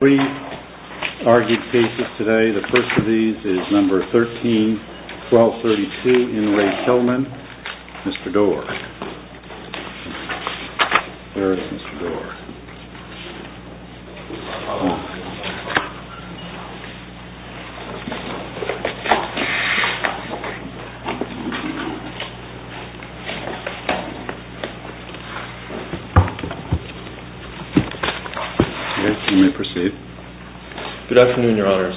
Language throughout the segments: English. There are three argued cases today. The first of these is number 13-1232 in Ray Tillman. Mr. Doar. There is Mr. Doar. You may proceed. Good afternoon, your honors.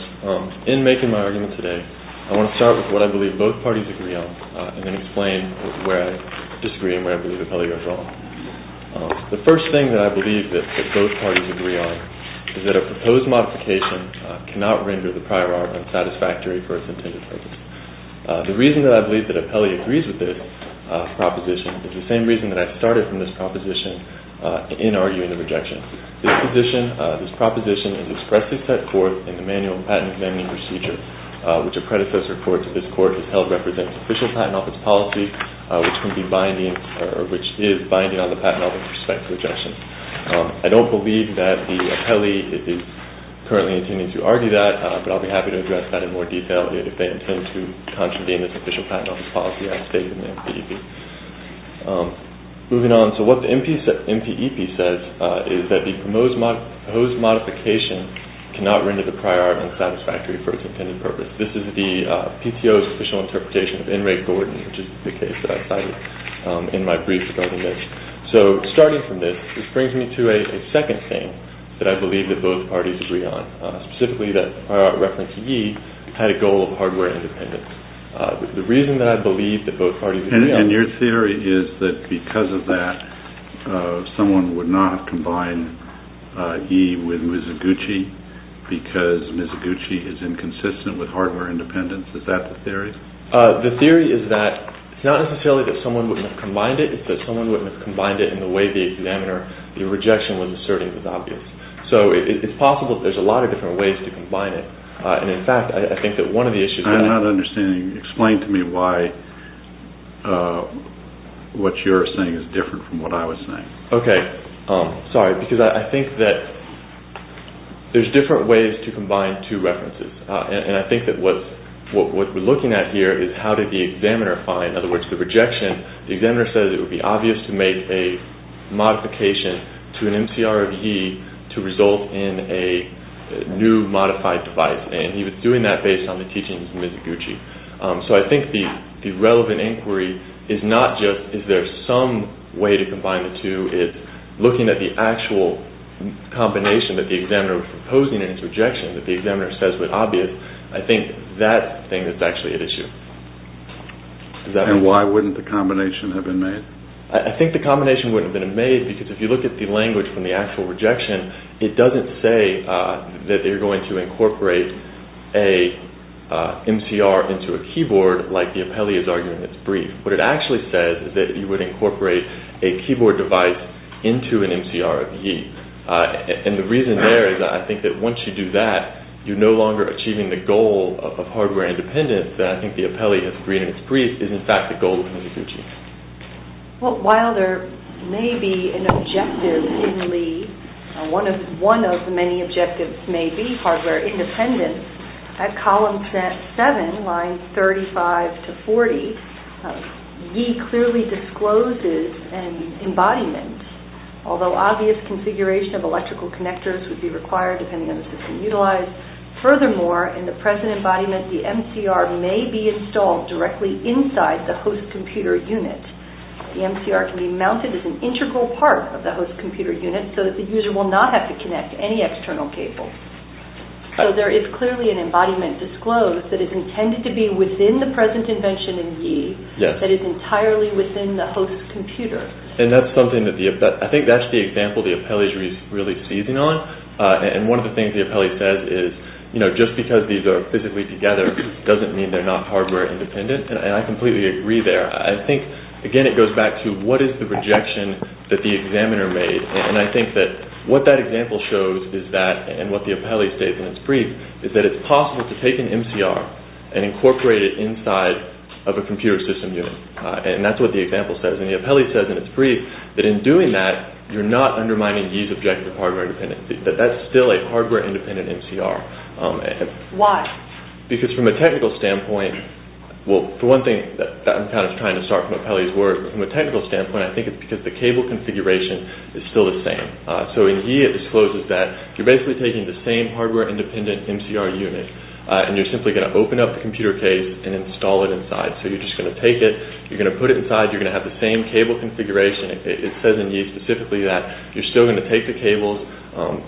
In making my argument today, I want to start with what I believe both parties agree on and then explain where I disagree and where I believe it probably goes wrong. The first thing that I believe that both parties agree on is that a proposed modification cannot render the prior art unsatisfactory for its intended purpose. The reason that I believe that Apelli agrees with this proposition is the same reason that I started from this proposition in arguing the rejection. This proposition is expressly set forth in the manual patent examining procedure, which a predecessor court to this court has held represents official patent office policy, which is binding on the patent office with respect to rejection. I don't believe that the Apelli is currently intending to argue that, but I'll be happy to address that in more detail if they intend to contravene this official patent office policy as stated in the MPEP. Moving on, so what the MPEP says is that the proposed modification cannot render the prior art unsatisfactory for its intended purpose. This is the PTO's official interpretation of N. Ray Gordon, which is the case that I cited in my brief regarding this. So starting from this, this brings me to a second thing that I believe that both parties agree on, specifically that prior art reference E had a goal of hardware independence. The reason that I believe that both parties agree on... And your theory is that because of that, someone would not have combined E with Mizuguchi because Mizuguchi is inconsistent with hardware independence. Is that the theory? The theory is that it's not necessarily that someone wouldn't have combined it, it's that someone wouldn't have combined it in the way the examiner, the rejection was asserting was obvious. So it's possible that there's a lot of different ways to combine it, and in fact, I think that one of the issues... I'm not understanding, explain to me why what you're saying is different from what I was saying. Okay, sorry, because I think that there's different ways to combine two references, and I think that what we're looking at here is how did the examiner find... In other words, the rejection, the examiner said it would be obvious to make a modification to an MCR of E to result in a new modified device, and he was doing that based on the teachings of Mizuguchi. So I think the relevant inquiry is not just is there some way to combine the two, it's looking at the actual combination that the examiner was proposing in his rejection that the examiner says was obvious. I think that thing is actually at issue. And why wouldn't the combination have been made? I think the combination wouldn't have been made because if you look at the language from the actual rejection, it doesn't say that you're going to incorporate a MCR into a keyboard like the appellee is arguing in its brief. What it actually says is that you would incorporate a keyboard device into an MCR of E. And the reason there is I think that once you do that, you're no longer achieving the goal of hardware independence, and I think the appellee has agreed in its brief is in fact the goal of Mizuguchi. Well, while there may be an objective in Lee, one of the many objectives may be hardware independence, at column 7, lines 35 to 40, E clearly discloses an embodiment, although obvious configuration of electrical connectors would be required depending on the system utilized. Furthermore, in the present embodiment, the MCR may be installed directly inside the host computer unit. The MCR can be mounted as an integral part of the host computer unit, so that the user will not have to connect any external cables. So there is clearly an embodiment disclosed that is intended to be within the present invention in E, that is entirely within the host computer. And that's something that I think that's the example the appellee is really seizing on. And one of the things the appellee says is, you know, just because these are physically together doesn't mean they're not hardware independent, and I completely agree there. I think, again, it goes back to what is the rejection that the examiner made, and I think that what that example shows is that, and what the appellee states in its brief, is that it's possible to take an MCR and incorporate it inside of a computer system unit. And that's what the example says. And the appellee says in its brief that in doing that, you're not undermining E's objective hardware independence, that that's still a hardware independent MCR. Why? Because from a technical standpoint, well, for one thing, I'm kind of trying to start from the appellee's words, but from a technical standpoint, I think it's because the cable configuration is still the same. So in E, it discloses that you're basically taking the same hardware independent MCR unit, and you're simply going to open up the computer case and install it inside. So you're just going to take it. You're going to put it inside. You're going to have the same cable configuration. It says in E specifically that you're still going to take the cables.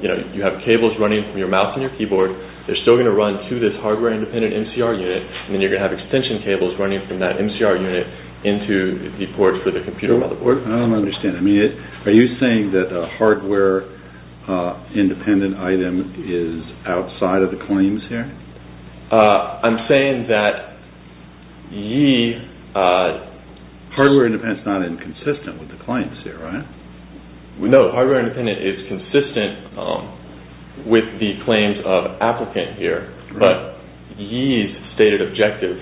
You have cables running from your mouse and your keyboard. They're still going to run to this hardware independent MCR unit, and then you're going to have extension cables running from that MCR unit into the ports for the computer motherboard. I don't understand. Are you saying that a hardware independent item is outside of the claims here? I'm saying that E hardware independent is not inconsistent with the claims here, right? No, hardware independent is consistent with the claims of applicant here, but E's stated objective,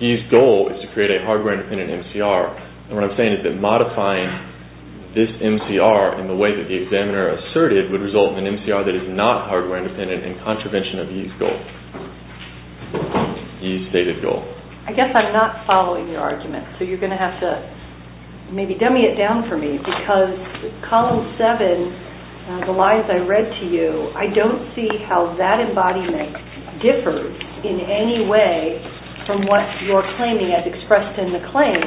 E's goal is to create a hardware independent MCR, and what I'm saying is that modifying this MCR in the way that the examiner asserted would result in an MCR that is not hardware independent in contravention of E's goal, E's stated goal. I guess I'm not following your argument, so you're going to have to maybe dummy it down for me because Column 7, the lies I read to you, I don't see how that embodiment differs in any way from what you're claiming as expressed in the claim,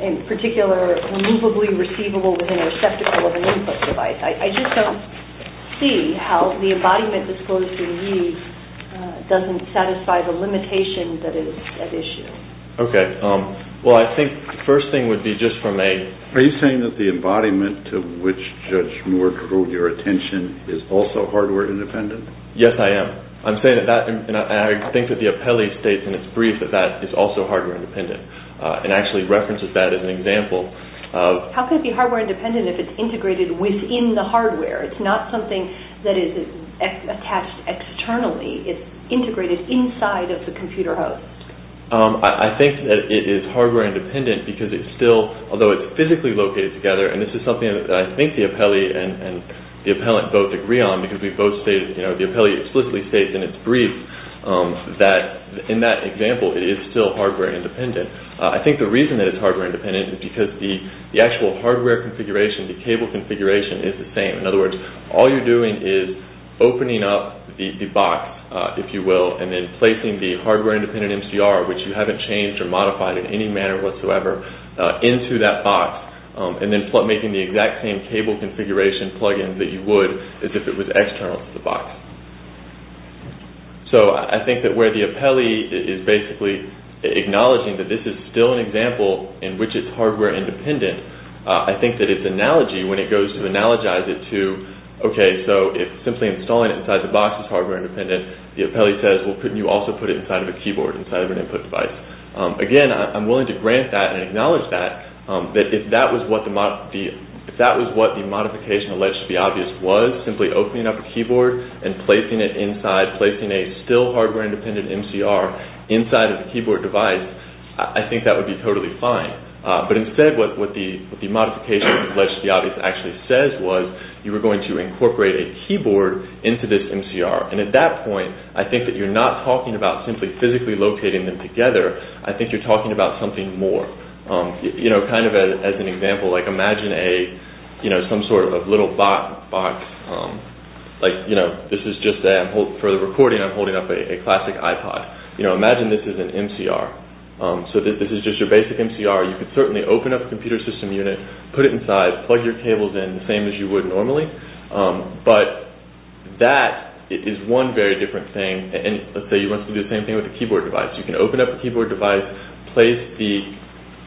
in particular, removably receivable within a receptacle of an input device. I just don't see how the embodiment disclosed in E doesn't satisfy the limitation that is at issue. Okay. Well, I think the first thing would be just from a... Are you saying that the embodiment to which Judge Moore drew your attention is also hardware independent? Yes, I am. I'm saying that, and I think that the appellee states in its brief that that is also hardware independent and actually references that as an example. How could it be hardware independent if it's integrated within the hardware? It's not something that is attached externally. It's integrated inside of the computer host. I think that it is hardware independent because it's still, although it's physically located together, and this is something that I think the appellee and the appellant both agree on because the appellee explicitly states in its brief that in that example it is still hardware independent. I think the reason that it's hardware independent is because the actual hardware configuration, the cable configuration, is the same. In other words, all you're doing is opening up the box, if you will, and then placing the hardware independent MCR, which you haven't changed or modified in any manner whatsoever, into that box and then making the exact same cable configuration plug-in that you would if it was external to the box. So I think that where the appellee is basically acknowledging that this is still an example in which it's hardware independent, I think that its analogy, when it goes to analogize it to, okay, so if simply installing it inside the box is hardware independent, the appellee says, well, couldn't you also put it inside of a keyboard, inside of an input device? Again, I'm willing to grant that and acknowledge that, that if that was what the modification alleged to be obvious was, simply opening up a keyboard and placing it inside, placing a still hardware independent MCR inside of a keyboard device, I think that would be totally fine. But instead what the modification alleged to be obvious actually says was you were going to incorporate a keyboard into this MCR. And at that point, I think that you're not talking about simply physically locating them together. I think you're talking about something more. Kind of as an example, imagine some sort of little box. Like this is just for the recording, I'm holding up a classic iPod. Imagine this is an MCR. So this is just your basic MCR. You could certainly open up a computer system unit, put it inside, plug your cables in, the same as you would normally. But that is one very different thing. And let's say you want to do the same thing with a keyboard device. You can open up a keyboard device, place the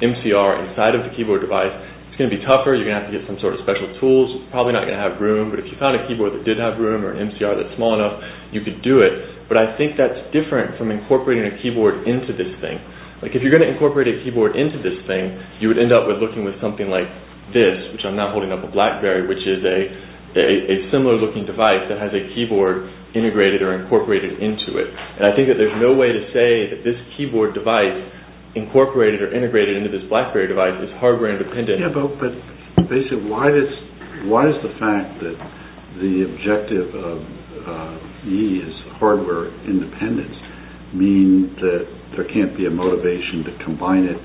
MCR inside of the keyboard device. It's going to be tougher. You're going to have to get some sort of special tools. It's probably not going to have room. But if you found a keyboard that did have room or an MCR that's small enough, you could do it. But I think that's different from incorporating a keyboard into this thing. Like if you're going to incorporate a keyboard into this thing, you would end up with looking with something like this, which I'm now holding up a BlackBerry, which is a similar looking device that has a keyboard integrated or incorporated into it. And I think that there's no way to say that this keyboard device incorporated or integrated into this BlackBerry device is hardware independent. Yeah, but basically why does the fact that the objective of E is hardware independence mean that there can't be a motivation to combine it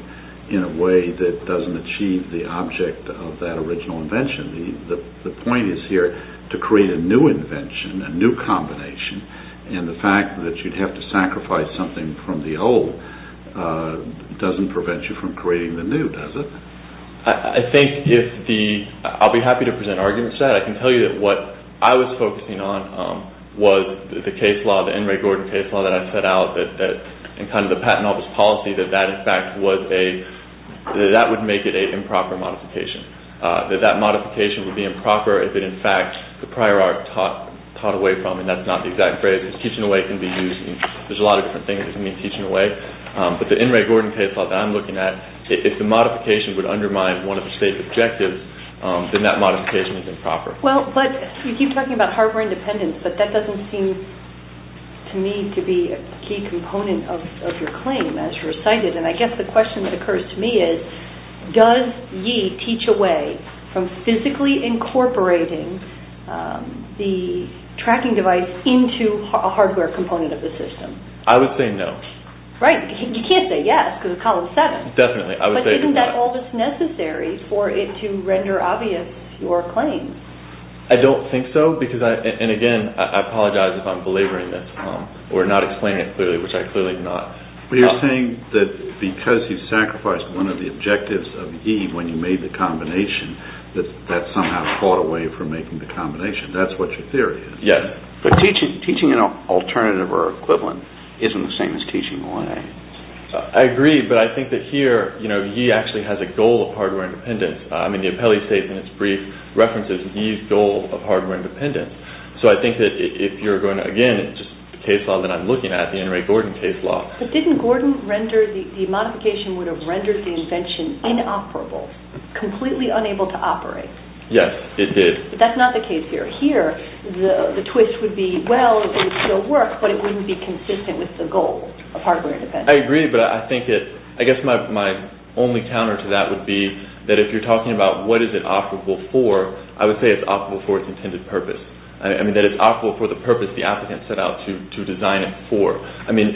in a way that doesn't achieve the object of that original invention? The point is here to create a new invention, a new combination. And the fact that you'd have to sacrifice something from the old doesn't prevent you from creating the new, does it? I think if the – I'll be happy to present arguments to that. I can tell you that what I was focusing on was the case law, the N. Ray Gordon case law that I set out, and kind of the patent office policy that that in fact was a – that would make it an improper modification. That that modification would be improper if it in fact the prior art taught away from, and that's not the exact phrase. Teaching away can be used – there's a lot of different things that can mean teaching away. But the N. Ray Gordon case law that I'm looking at, if the modification would undermine one of the state's objectives, then that modification is improper. Well, but you keep talking about hardware independence, but that doesn't seem to me to be a key component of your claim as you recited. And I guess the question that occurs to me is, does ye teach away from physically incorporating the tracking device into a hardware component of the system? I would say no. Right. You can't say yes, because of Column 7. Definitely. I would say – But isn't that almost necessary for it to render obvious your claim? I don't think so, because I – and again, I apologize if I'm belaboring this or not explaining it clearly, which I clearly am not. But you're saying that because you sacrificed one of the objectives of ye when you made the combination, that that somehow fought away from making the combination. That's what your theory is. Yes. But teaching an alternative or equivalent isn't the same as teaching away. I agree, but I think that here ye actually has a goal of hardware independence. I mean, the appellee states in its brief references ye's goal of hardware independence. So I think that if you're going to – again, it's just the case law that I'm looking at, the N. Ray Gordon case law. But didn't Gordon render – the modification would have rendered the invention inoperable, completely unable to operate? Yes, it did. But that's not the case here. Here, the twist would be, well, it would still work, but it wouldn't be consistent with the goal of hardware independence. I agree, but I think that – I guess my only counter to that would be that if you're talking about what is it operable for, I would say it's operable for its intended purpose. I mean, that it's operable for the purpose the applicant set out to design it for. I mean,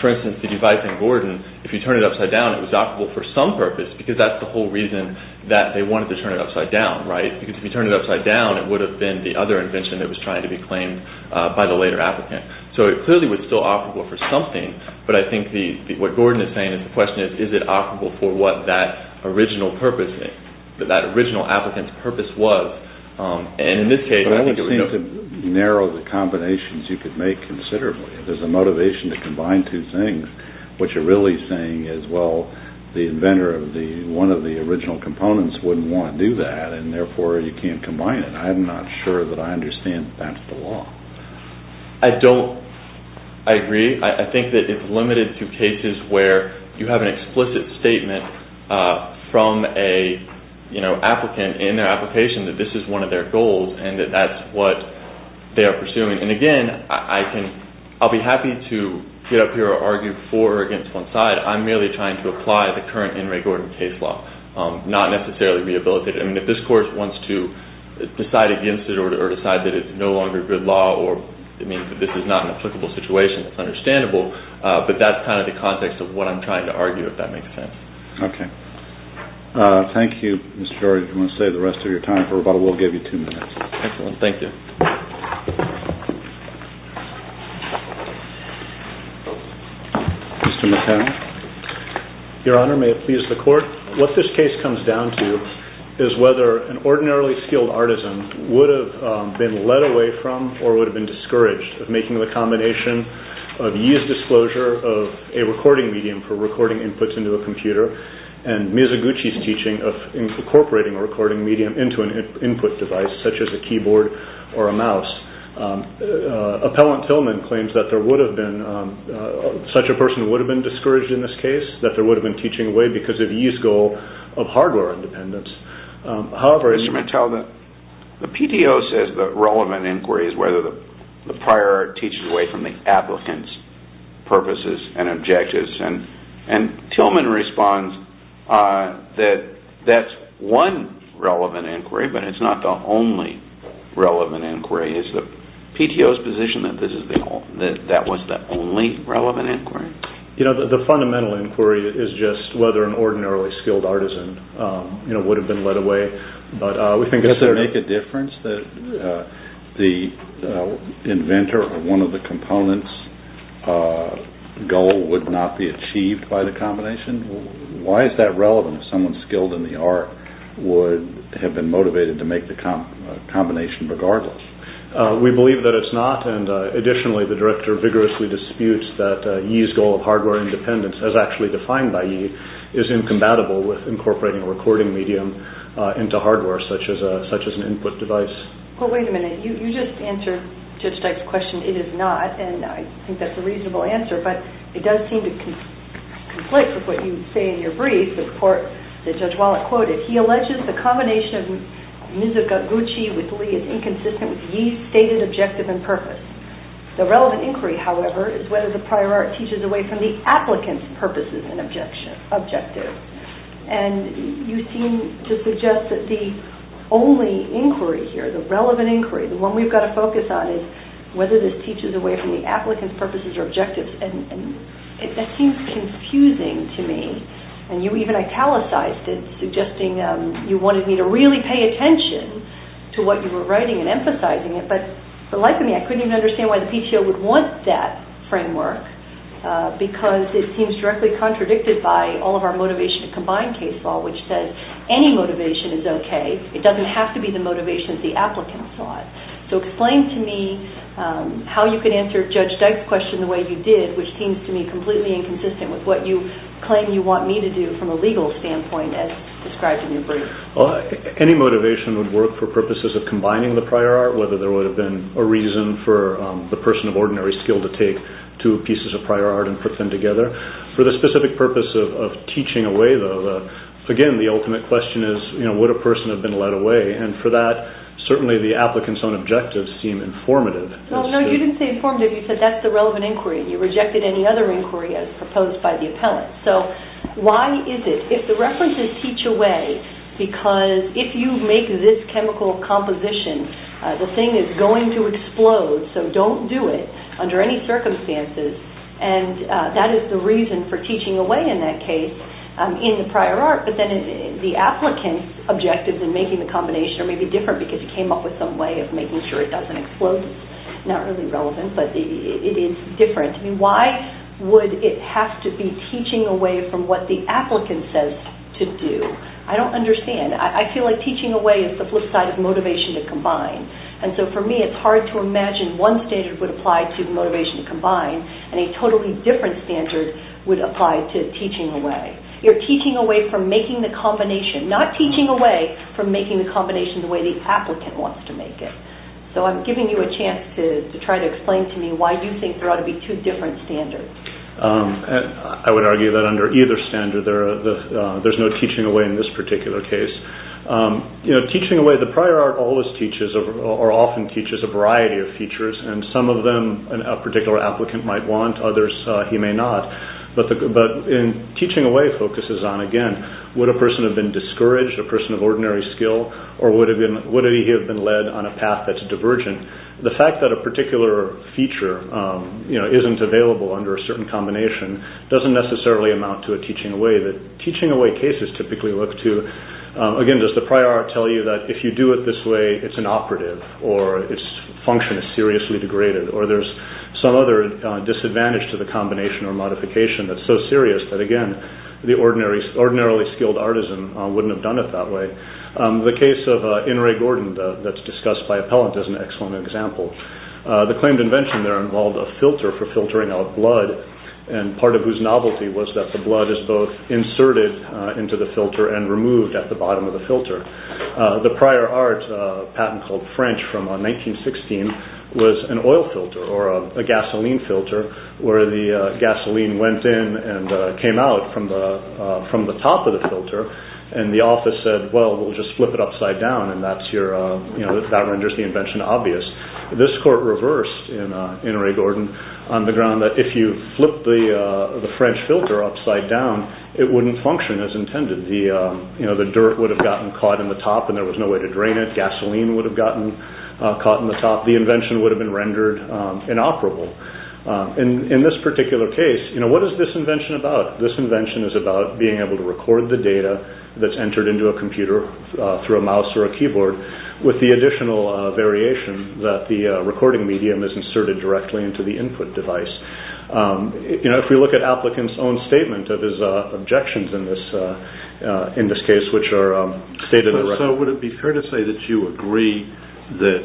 for instance, the device in Gordon, if you turn it upside down, it was operable for some purpose, because that's the whole reason that they wanted to turn it upside down, right? Because if you turn it upside down, it would have been the other invention that was trying to be claimed by the later applicant. So it clearly was still operable for something, but I think what Gordon is saying is the question is, is it operable for what that original purpose is, what that original applicant's purpose was? And in this case, I think it was – But I would seem to narrow the combinations you could make considerably. If there's a motivation to combine two things, what you're really saying is, well, the inventor of one of the original components wouldn't want to do that, and therefore you can't combine it. I'm not sure that I understand that's the law. I don't – I agree. I think that it's limited to cases where you have an explicit statement from an applicant in their application that this is one of their goals and that that's what they are pursuing. And again, I'll be happy to get up here and argue for or against one side. I'm merely trying to apply the current In Re Gordon case law, not necessarily rehabilitate it. I mean, if this court wants to decide against it or decide that it's no longer good law or it means that this is not an applicable situation, that's understandable, but that's kind of the context of what I'm trying to argue, if that makes sense. Okay. Thank you, Mr. George. I'm going to save the rest of your time for rebuttal. We'll give you two minutes. Excellent. Thank you. Mr. McConnell? Your Honor, may it please the Court? What this case comes down to is whether an ordinarily skilled artisan would have been led away from or would have been discouraged of making the combination of Yee's disclosure of a recording medium for recording inputs into a computer and Mizuguchi's teaching of incorporating a recording medium into an input device such as a keyboard or a mouse. Appellant Tillman claims that there would have been – such a person would have been discouraged in this case, that there would have been teaching away because of Yee's goal of hardware independence. However – Mr. McConnell, the PTO says that relevant inquiry is whether the prior art teaches away from the applicant's purposes and objectives, and Tillman responds that that's one relevant inquiry, but it's not the only relevant inquiry. Is the PTO's position that that was the only relevant inquiry? You know, the fundamental inquiry is just whether an ordinarily skilled artisan would have been led away. Does it make a difference that the inventor of one of the components' goal would not be achieved by the combination? Why is that relevant if someone skilled in the art would have been motivated to make the combination regardless? We believe that it's not, and additionally, the director vigorously disputes that Yee's goal of hardware independence, as actually defined by Yee, is incompatible with incorporating a recording medium into hardware such as an input device. Well, wait a minute. You just answered Judge Dyke's question, it is not, and I think that's a reasonable answer, but it does seem to conflict with what you say in your brief, the report that Judge Wallet quoted. He alleges the combination of Mizuguchi with Lee is inconsistent with Yee's stated objective and purpose. The relevant inquiry, however, is whether the prior art teaches away from the applicant's purposes and objectives, and you seem to suggest that the only inquiry here, the relevant inquiry, the one we've got to focus on, is whether this teaches away from the applicant's purposes or objectives, and that seems confusing to me, and you even italicized it, suggesting you wanted me to really pay attention to what you were writing and emphasizing it, but like me, I couldn't even understand why the PTO would want that framework, because it seems directly contradicted by all of our motivation to combine case law, which says any motivation is okay. It doesn't have to be the motivation the applicant sought. So explain to me how you could answer Judge Dyke's question the way you did, which seems to me completely inconsistent with what you claim you want me to do from a legal standpoint as described in your brief. Any motivation would work for purposes of combining the prior art, whether there would have been a reason for the person of ordinary skill to take two pieces of prior art and put them together. For the specific purpose of teaching away, though, again, the ultimate question is would a person have been led away, and for that, certainly the applicant's own objectives seem informative. Well, no, you didn't say informative. You said that's the relevant inquiry. You rejected any other inquiry as proposed by the appellant. So why is it, if the references teach away, because if you make this chemical composition, the thing is going to explode, so don't do it under any circumstances, and that is the reason for teaching away in that case in the prior art, but then the applicant's objectives in making the combination are maybe different because he came up with some way of making sure it doesn't explode. It's not really relevant, but it is different. Why would it have to be teaching away from what the applicant says to do? I don't understand. I feel like teaching away is the flip side of motivation to combine, and so for me, it's hard to imagine one standard would apply to motivation to combine, and a totally different standard would apply to teaching away. You're teaching away from making the combination, not teaching away from making the combination the way the applicant wants to make it. So I'm giving you a chance to try to explain to me why you think there ought to be two different standards. I would argue that under either standard, there's no teaching away in this particular case. Teaching away, the prior art always teaches or often teaches a variety of features, and some of them a particular applicant might want, others he may not, but teaching away focuses on, again, would a person have been discouraged, a person of ordinary skill, or would he have been led on a path that's divergent? The fact that a particular feature isn't available under a certain combination doesn't necessarily amount to a teaching away. The teaching away cases typically look to, again, does the prior art tell you that if you do it this way, it's inoperative, or its function is seriously degraded, or there's some other disadvantage to the combination or modification that's so serious that, again, the ordinarily skilled artisan wouldn't have done it that way. The case of In Ray Gordon that's discussed by Appellant is an excellent example. The claimed invention there involved a filter for filtering out blood, and part of whose novelty was that the blood is both inserted into the filter and removed at the bottom of the filter. The prior art patent called French from 1916 was an oil filter or a gasoline filter where the gasoline went in and came out from the top of the filter, and the office said, well, we'll just flip it upside down, and that renders the invention obvious. This court reversed in Ray Gordon on the ground that if you flip the French filter upside down, it wouldn't function as intended. The dirt would have gotten caught in the top, and there was no way to drain it. Gasoline would have gotten caught in the top. The invention would have been rendered inoperable. In this particular case, what is this invention about? This invention is about being able to record the data that's entered into a computer through a mouse or a keyboard with the additional variation that the recording medium is inserted directly into the input device. If we look at applicants' own statement of his objections in this case, which are stated directly. So would it be fair to say that you agree that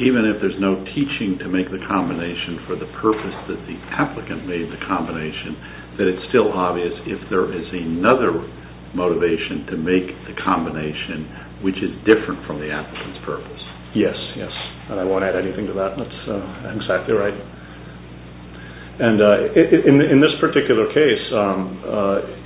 even if there's no teaching to make the combination for the purpose that the applicant made the combination, that it's still obvious if there is another motivation to make the combination, which is different from the applicant's purpose? Yes, yes, and I won't add anything to that. That's exactly right. In this particular case,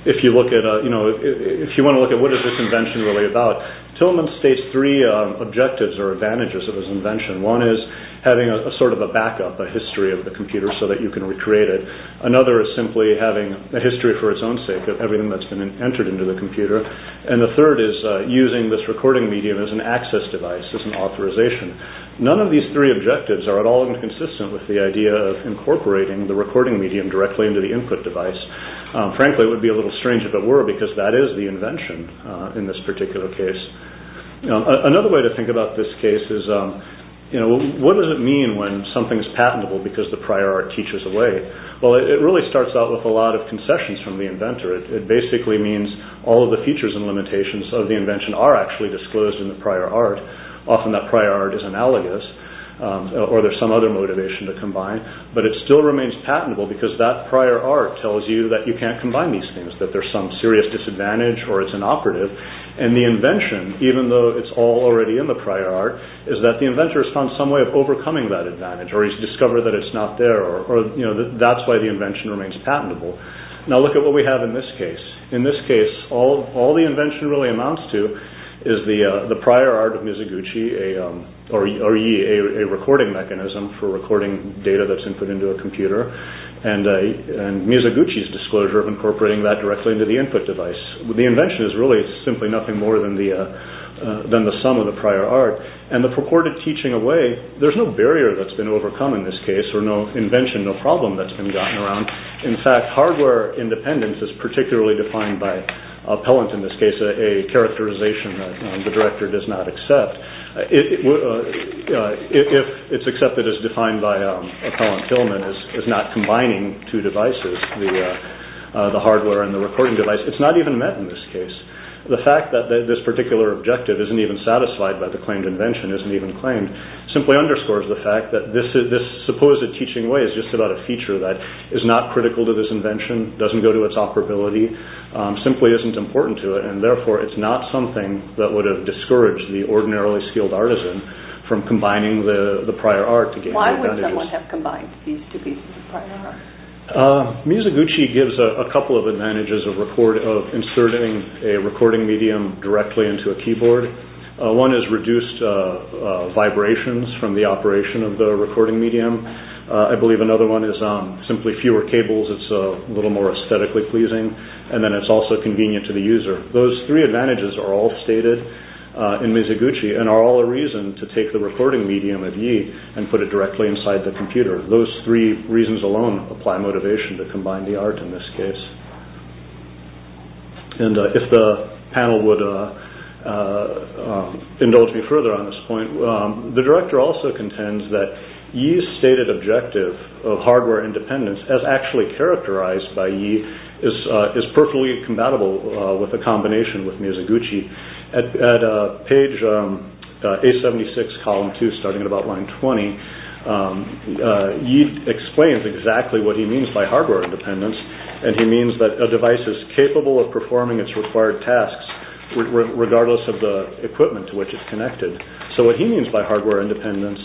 if you want to look at what is this invention really about, Tillman states three objectives or advantages of his invention. One is having a sort of a backup, a history of the computer so that you can recreate it. Another is simply having a history for its own sake of everything that's been entered into the computer. And the third is using this recording medium as an access device, as an authorization. None of these three objectives are at all inconsistent with the idea of incorporating the recording medium directly into the input device. Frankly, it would be a little strange if it were because that is the invention in this particular case. Another way to think about this case is what does it mean when something is patentable because the prior art teaches away? Well, it really starts out with a lot of concessions from the inventor. It basically means all of the features and limitations of the invention are actually disclosed in the prior art. Often that prior art is analogous or there's some other motivation to combine, but it still remains patentable because that prior art tells you that you can't combine these things, that there's some serious disadvantage or it's inoperative. And the invention, even though it's all already in the prior art, is that the inventor has found some way of overcoming that advantage or he's discovered that it's not there or that's why the invention remains patentable. Now look at what we have in this case. In this case, all the invention really amounts to is the prior art of Mizuguchi, a recording mechanism for recording data that's input into a computer, and Mizuguchi's disclosure of incorporating that directly into the input device. The invention is really simply nothing more than the sum of the prior art. And the purported teaching away, there's no barrier that's been overcome in this case, or no invention, no problem that's been gotten around. In fact, hardware independence is particularly defined by Appellant in this case, a characterization that the director does not accept. If it's accepted as defined by Appellant Tillman as not combining two devices, the hardware and the recording device, it's not even met in this case. The fact that this particular objective isn't even satisfied by the claimed invention, isn't even claimed, simply underscores the fact that this supposed teaching away is just about a feature that is not critical to this invention, doesn't go to its operability, simply isn't important to it, and therefore it's not something that would have discouraged the ordinarily skilled artisan from combining the prior art. Why would someone have combined these two pieces of prior art? Mizuguchi gives a couple of advantages of inserting a recording medium directly into a keyboard. One is reduced vibrations from the operation of the recording medium. I believe another one is simply fewer cables. It's a little more aesthetically pleasing, and then it's also convenient to the user. Those three advantages are all stated in Mizuguchi, and are all a reason to take the recording medium of Yi and put it directly inside the computer. Those three reasons alone apply motivation to combine the art in this case. If the panel would indulge me further on this point, the director also contends that Yi's stated objective of hardware independence as actually characterized by Yi is perfectly compatible with the combination with Mizuguchi. At page 876, column 2, starting at about line 20, Yi explains exactly what he means by hardware independence, and he means that a device is capable of performing its required tasks regardless of the equipment to which it's connected. So what he means by hardware independence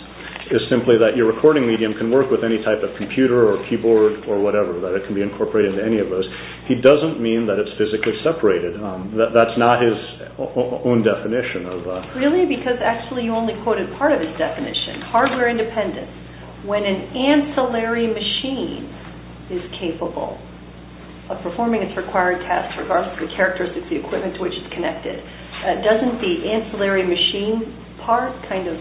is simply that your recording medium can work with any type of computer or keyboard or whatever, that it can be incorporated into any of those. He doesn't mean that it's physically separated. That's not his own definition. Really? Because actually you only quoted part of his definition. Hardware independence. When an ancillary machine is capable of performing its required tasks regardless of the characteristics of the equipment to which it's connected, doesn't the ancillary machine part kind of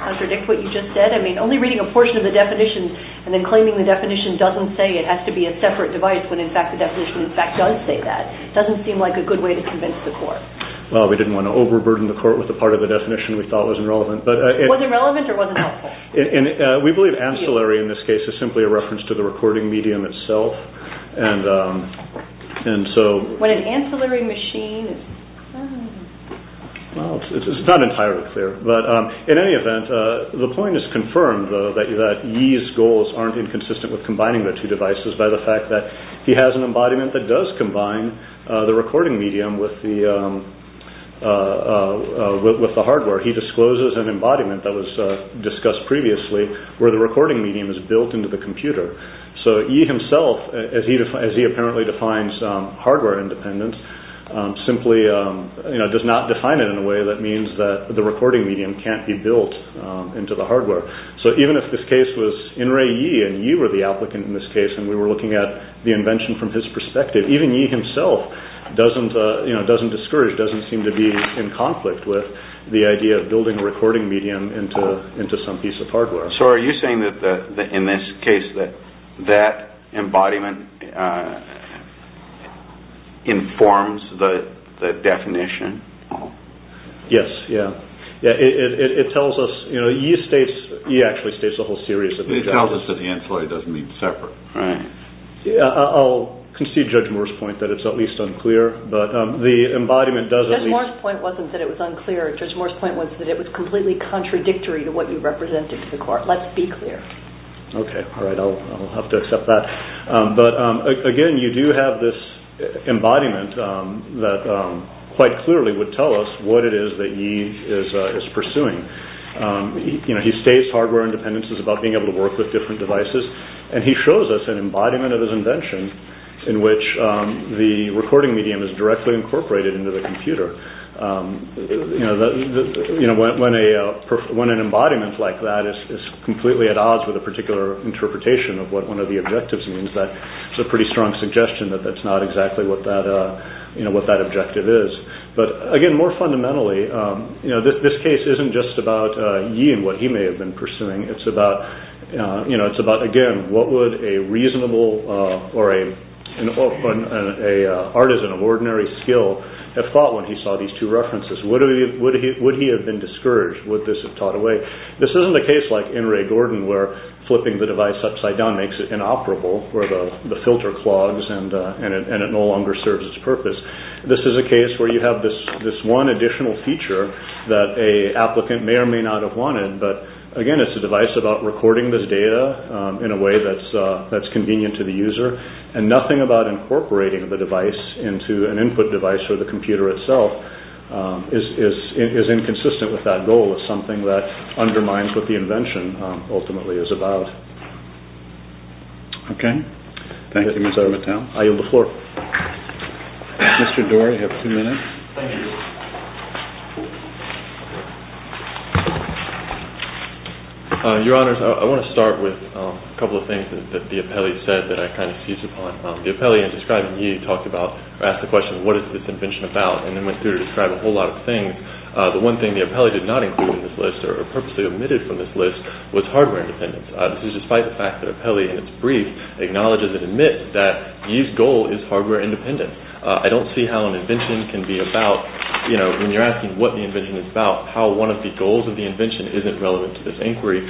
contradict what you just said? I mean, only reading a portion of the definition and then claiming the definition doesn't say it has to be a separate device when in fact the definition in fact does say that. It doesn't seem like a good way to convince the court. Well, we didn't want to overburden the court with the part of the definition we thought was irrelevant. Was it relevant or was it helpful? We believe ancillary in this case is simply a reference to the recording medium itself. When an ancillary machine is... Well, it's not entirely clear. But in any event, the point is confirmed that Yi's goals aren't inconsistent with combining the two devices by the fact that he has an embodiment that does combine the recording medium with the hardware. He discloses an embodiment that was discussed previously where the recording medium is built into the computer. So Yi himself, as he apparently defines hardware independence, simply does not define it in a way that means that the recording medium can't be built into the hardware. So even if this case was In-Rei Yi and Yi were the applicant in this case and we were looking at the invention from his perspective, even Yi himself doesn't discourage, doesn't seem to be in conflict with the idea of building a recording medium into some piece of hardware. So are you saying that in this case that embodiment informs the definition? Yes. It tells us... Yi actually states a whole series of... It tells us that the ancillary doesn't mean separate. I'll concede Judge Moore's point that it's at least unclear, but the embodiment does at least... Judge Moore's point wasn't that it was unclear. Judge Moore's point was that it was completely contradictory to what you represented to the court. Let's be clear. Okay. All right. I'll have to accept that. But again, you do have this embodiment that quite clearly would tell us what it is that Yi is pursuing. He states hardware independence is about being able to work with different devices and he shows us an embodiment of his invention in which the recording medium is directly incorporated into the computer. When an embodiment like that is completely at odds with a particular interpretation of what one of the objectives means, that's a pretty strong suggestion that that's not exactly what that objective is. But again, more fundamentally, this case isn't just about Yi and what he may have been pursuing. It's about, again, what would a reasonable... an artisan of ordinary skill have thought when he saw these two references? Would he have been discouraged? Would this have taught a way? This isn't a case like in Ray Gordon where flipping the device upside down makes it inoperable where the filter clogs and it no longer serves its purpose. This is a case where you have this one additional feature that a applicant may or may not have wanted, but again, it's a device about recording this data in a way that's convenient to the user and nothing about incorporating the device into an input device or the computer itself is inconsistent with that goal. It's something that undermines what the invention ultimately is about. Okay. Thank you, Mr. Mattel. I yield the floor. Mr. Dory, you have two minutes. Your Honors, I want to start with a couple of things that the appellee said that I kind of seized upon. The appellee in describing Yi talked about... asked the question, what is this invention about? And then went through to describe a whole lot of things. The one thing the appellee did not include in this list or purposely omitted from this list was hardware independence. This is despite the fact that the appellee in its brief acknowledges and admits that Yi's goal is hardware independence. I don't see how an invention can be about... when you're asking what the invention is about, how one of the goals of the invention isn't relevant to this inquiry.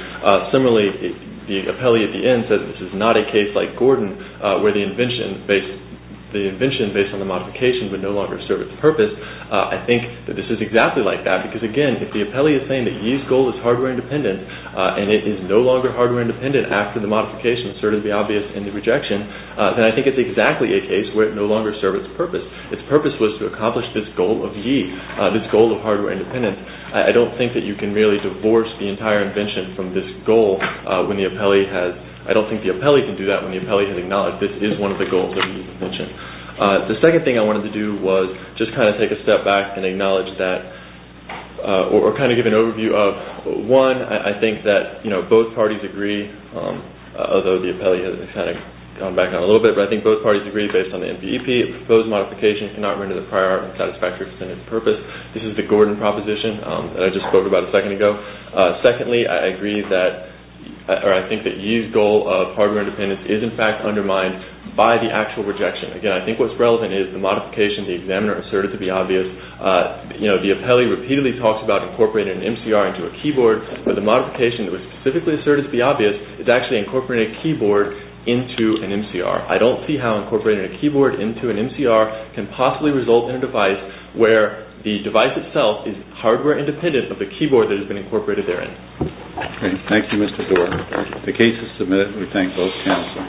Similarly, the appellee at the end said this is not a case like Gordon where the invention based on the modification would no longer serve its purpose. I think that this is exactly like that. Because again, if the appellee is saying that Yi's goal is hardware independence and it is no longer hardware independent after the modification, it's certainly obvious in the rejection, then I think it's exactly a case where it no longer serves its purpose. Its purpose was to accomplish this goal of Yi, this goal of hardware independence. I don't think that you can really divorce the entire invention from this goal when the appellee has... I don't think the appellee can do that when the appellee has acknowledged this is one of the goals of the invention. The second thing I wanted to do was just kind of take a step back and acknowledge that... or kind of give an overview of... One, I think that both parties agree, although the appellee has kind of gone back on it a little bit, but I think both parties agree based on the NBEP that the proposed modification cannot render the prior art unsatisfactory for its intended purpose. This is the Gordon proposition that I just spoke about a second ago. Secondly, I agree that... or I think that Yi's goal of hardware independence is in fact undermined by the actual rejection. Again, I think what's relevant is the modification the examiner asserted to be obvious. The appellee repeatedly talks about incorporating an MCR into a keyboard, but the modification that was specifically asserted to be obvious is actually incorporating a keyboard into an MCR. I don't see how incorporating a keyboard into an MCR can possibly result in a device where the device itself is hardware independent of the keyboard that has been incorporated therein. Okay. Thank you, Mr. Doar. The case is submitted. We thank both counsel.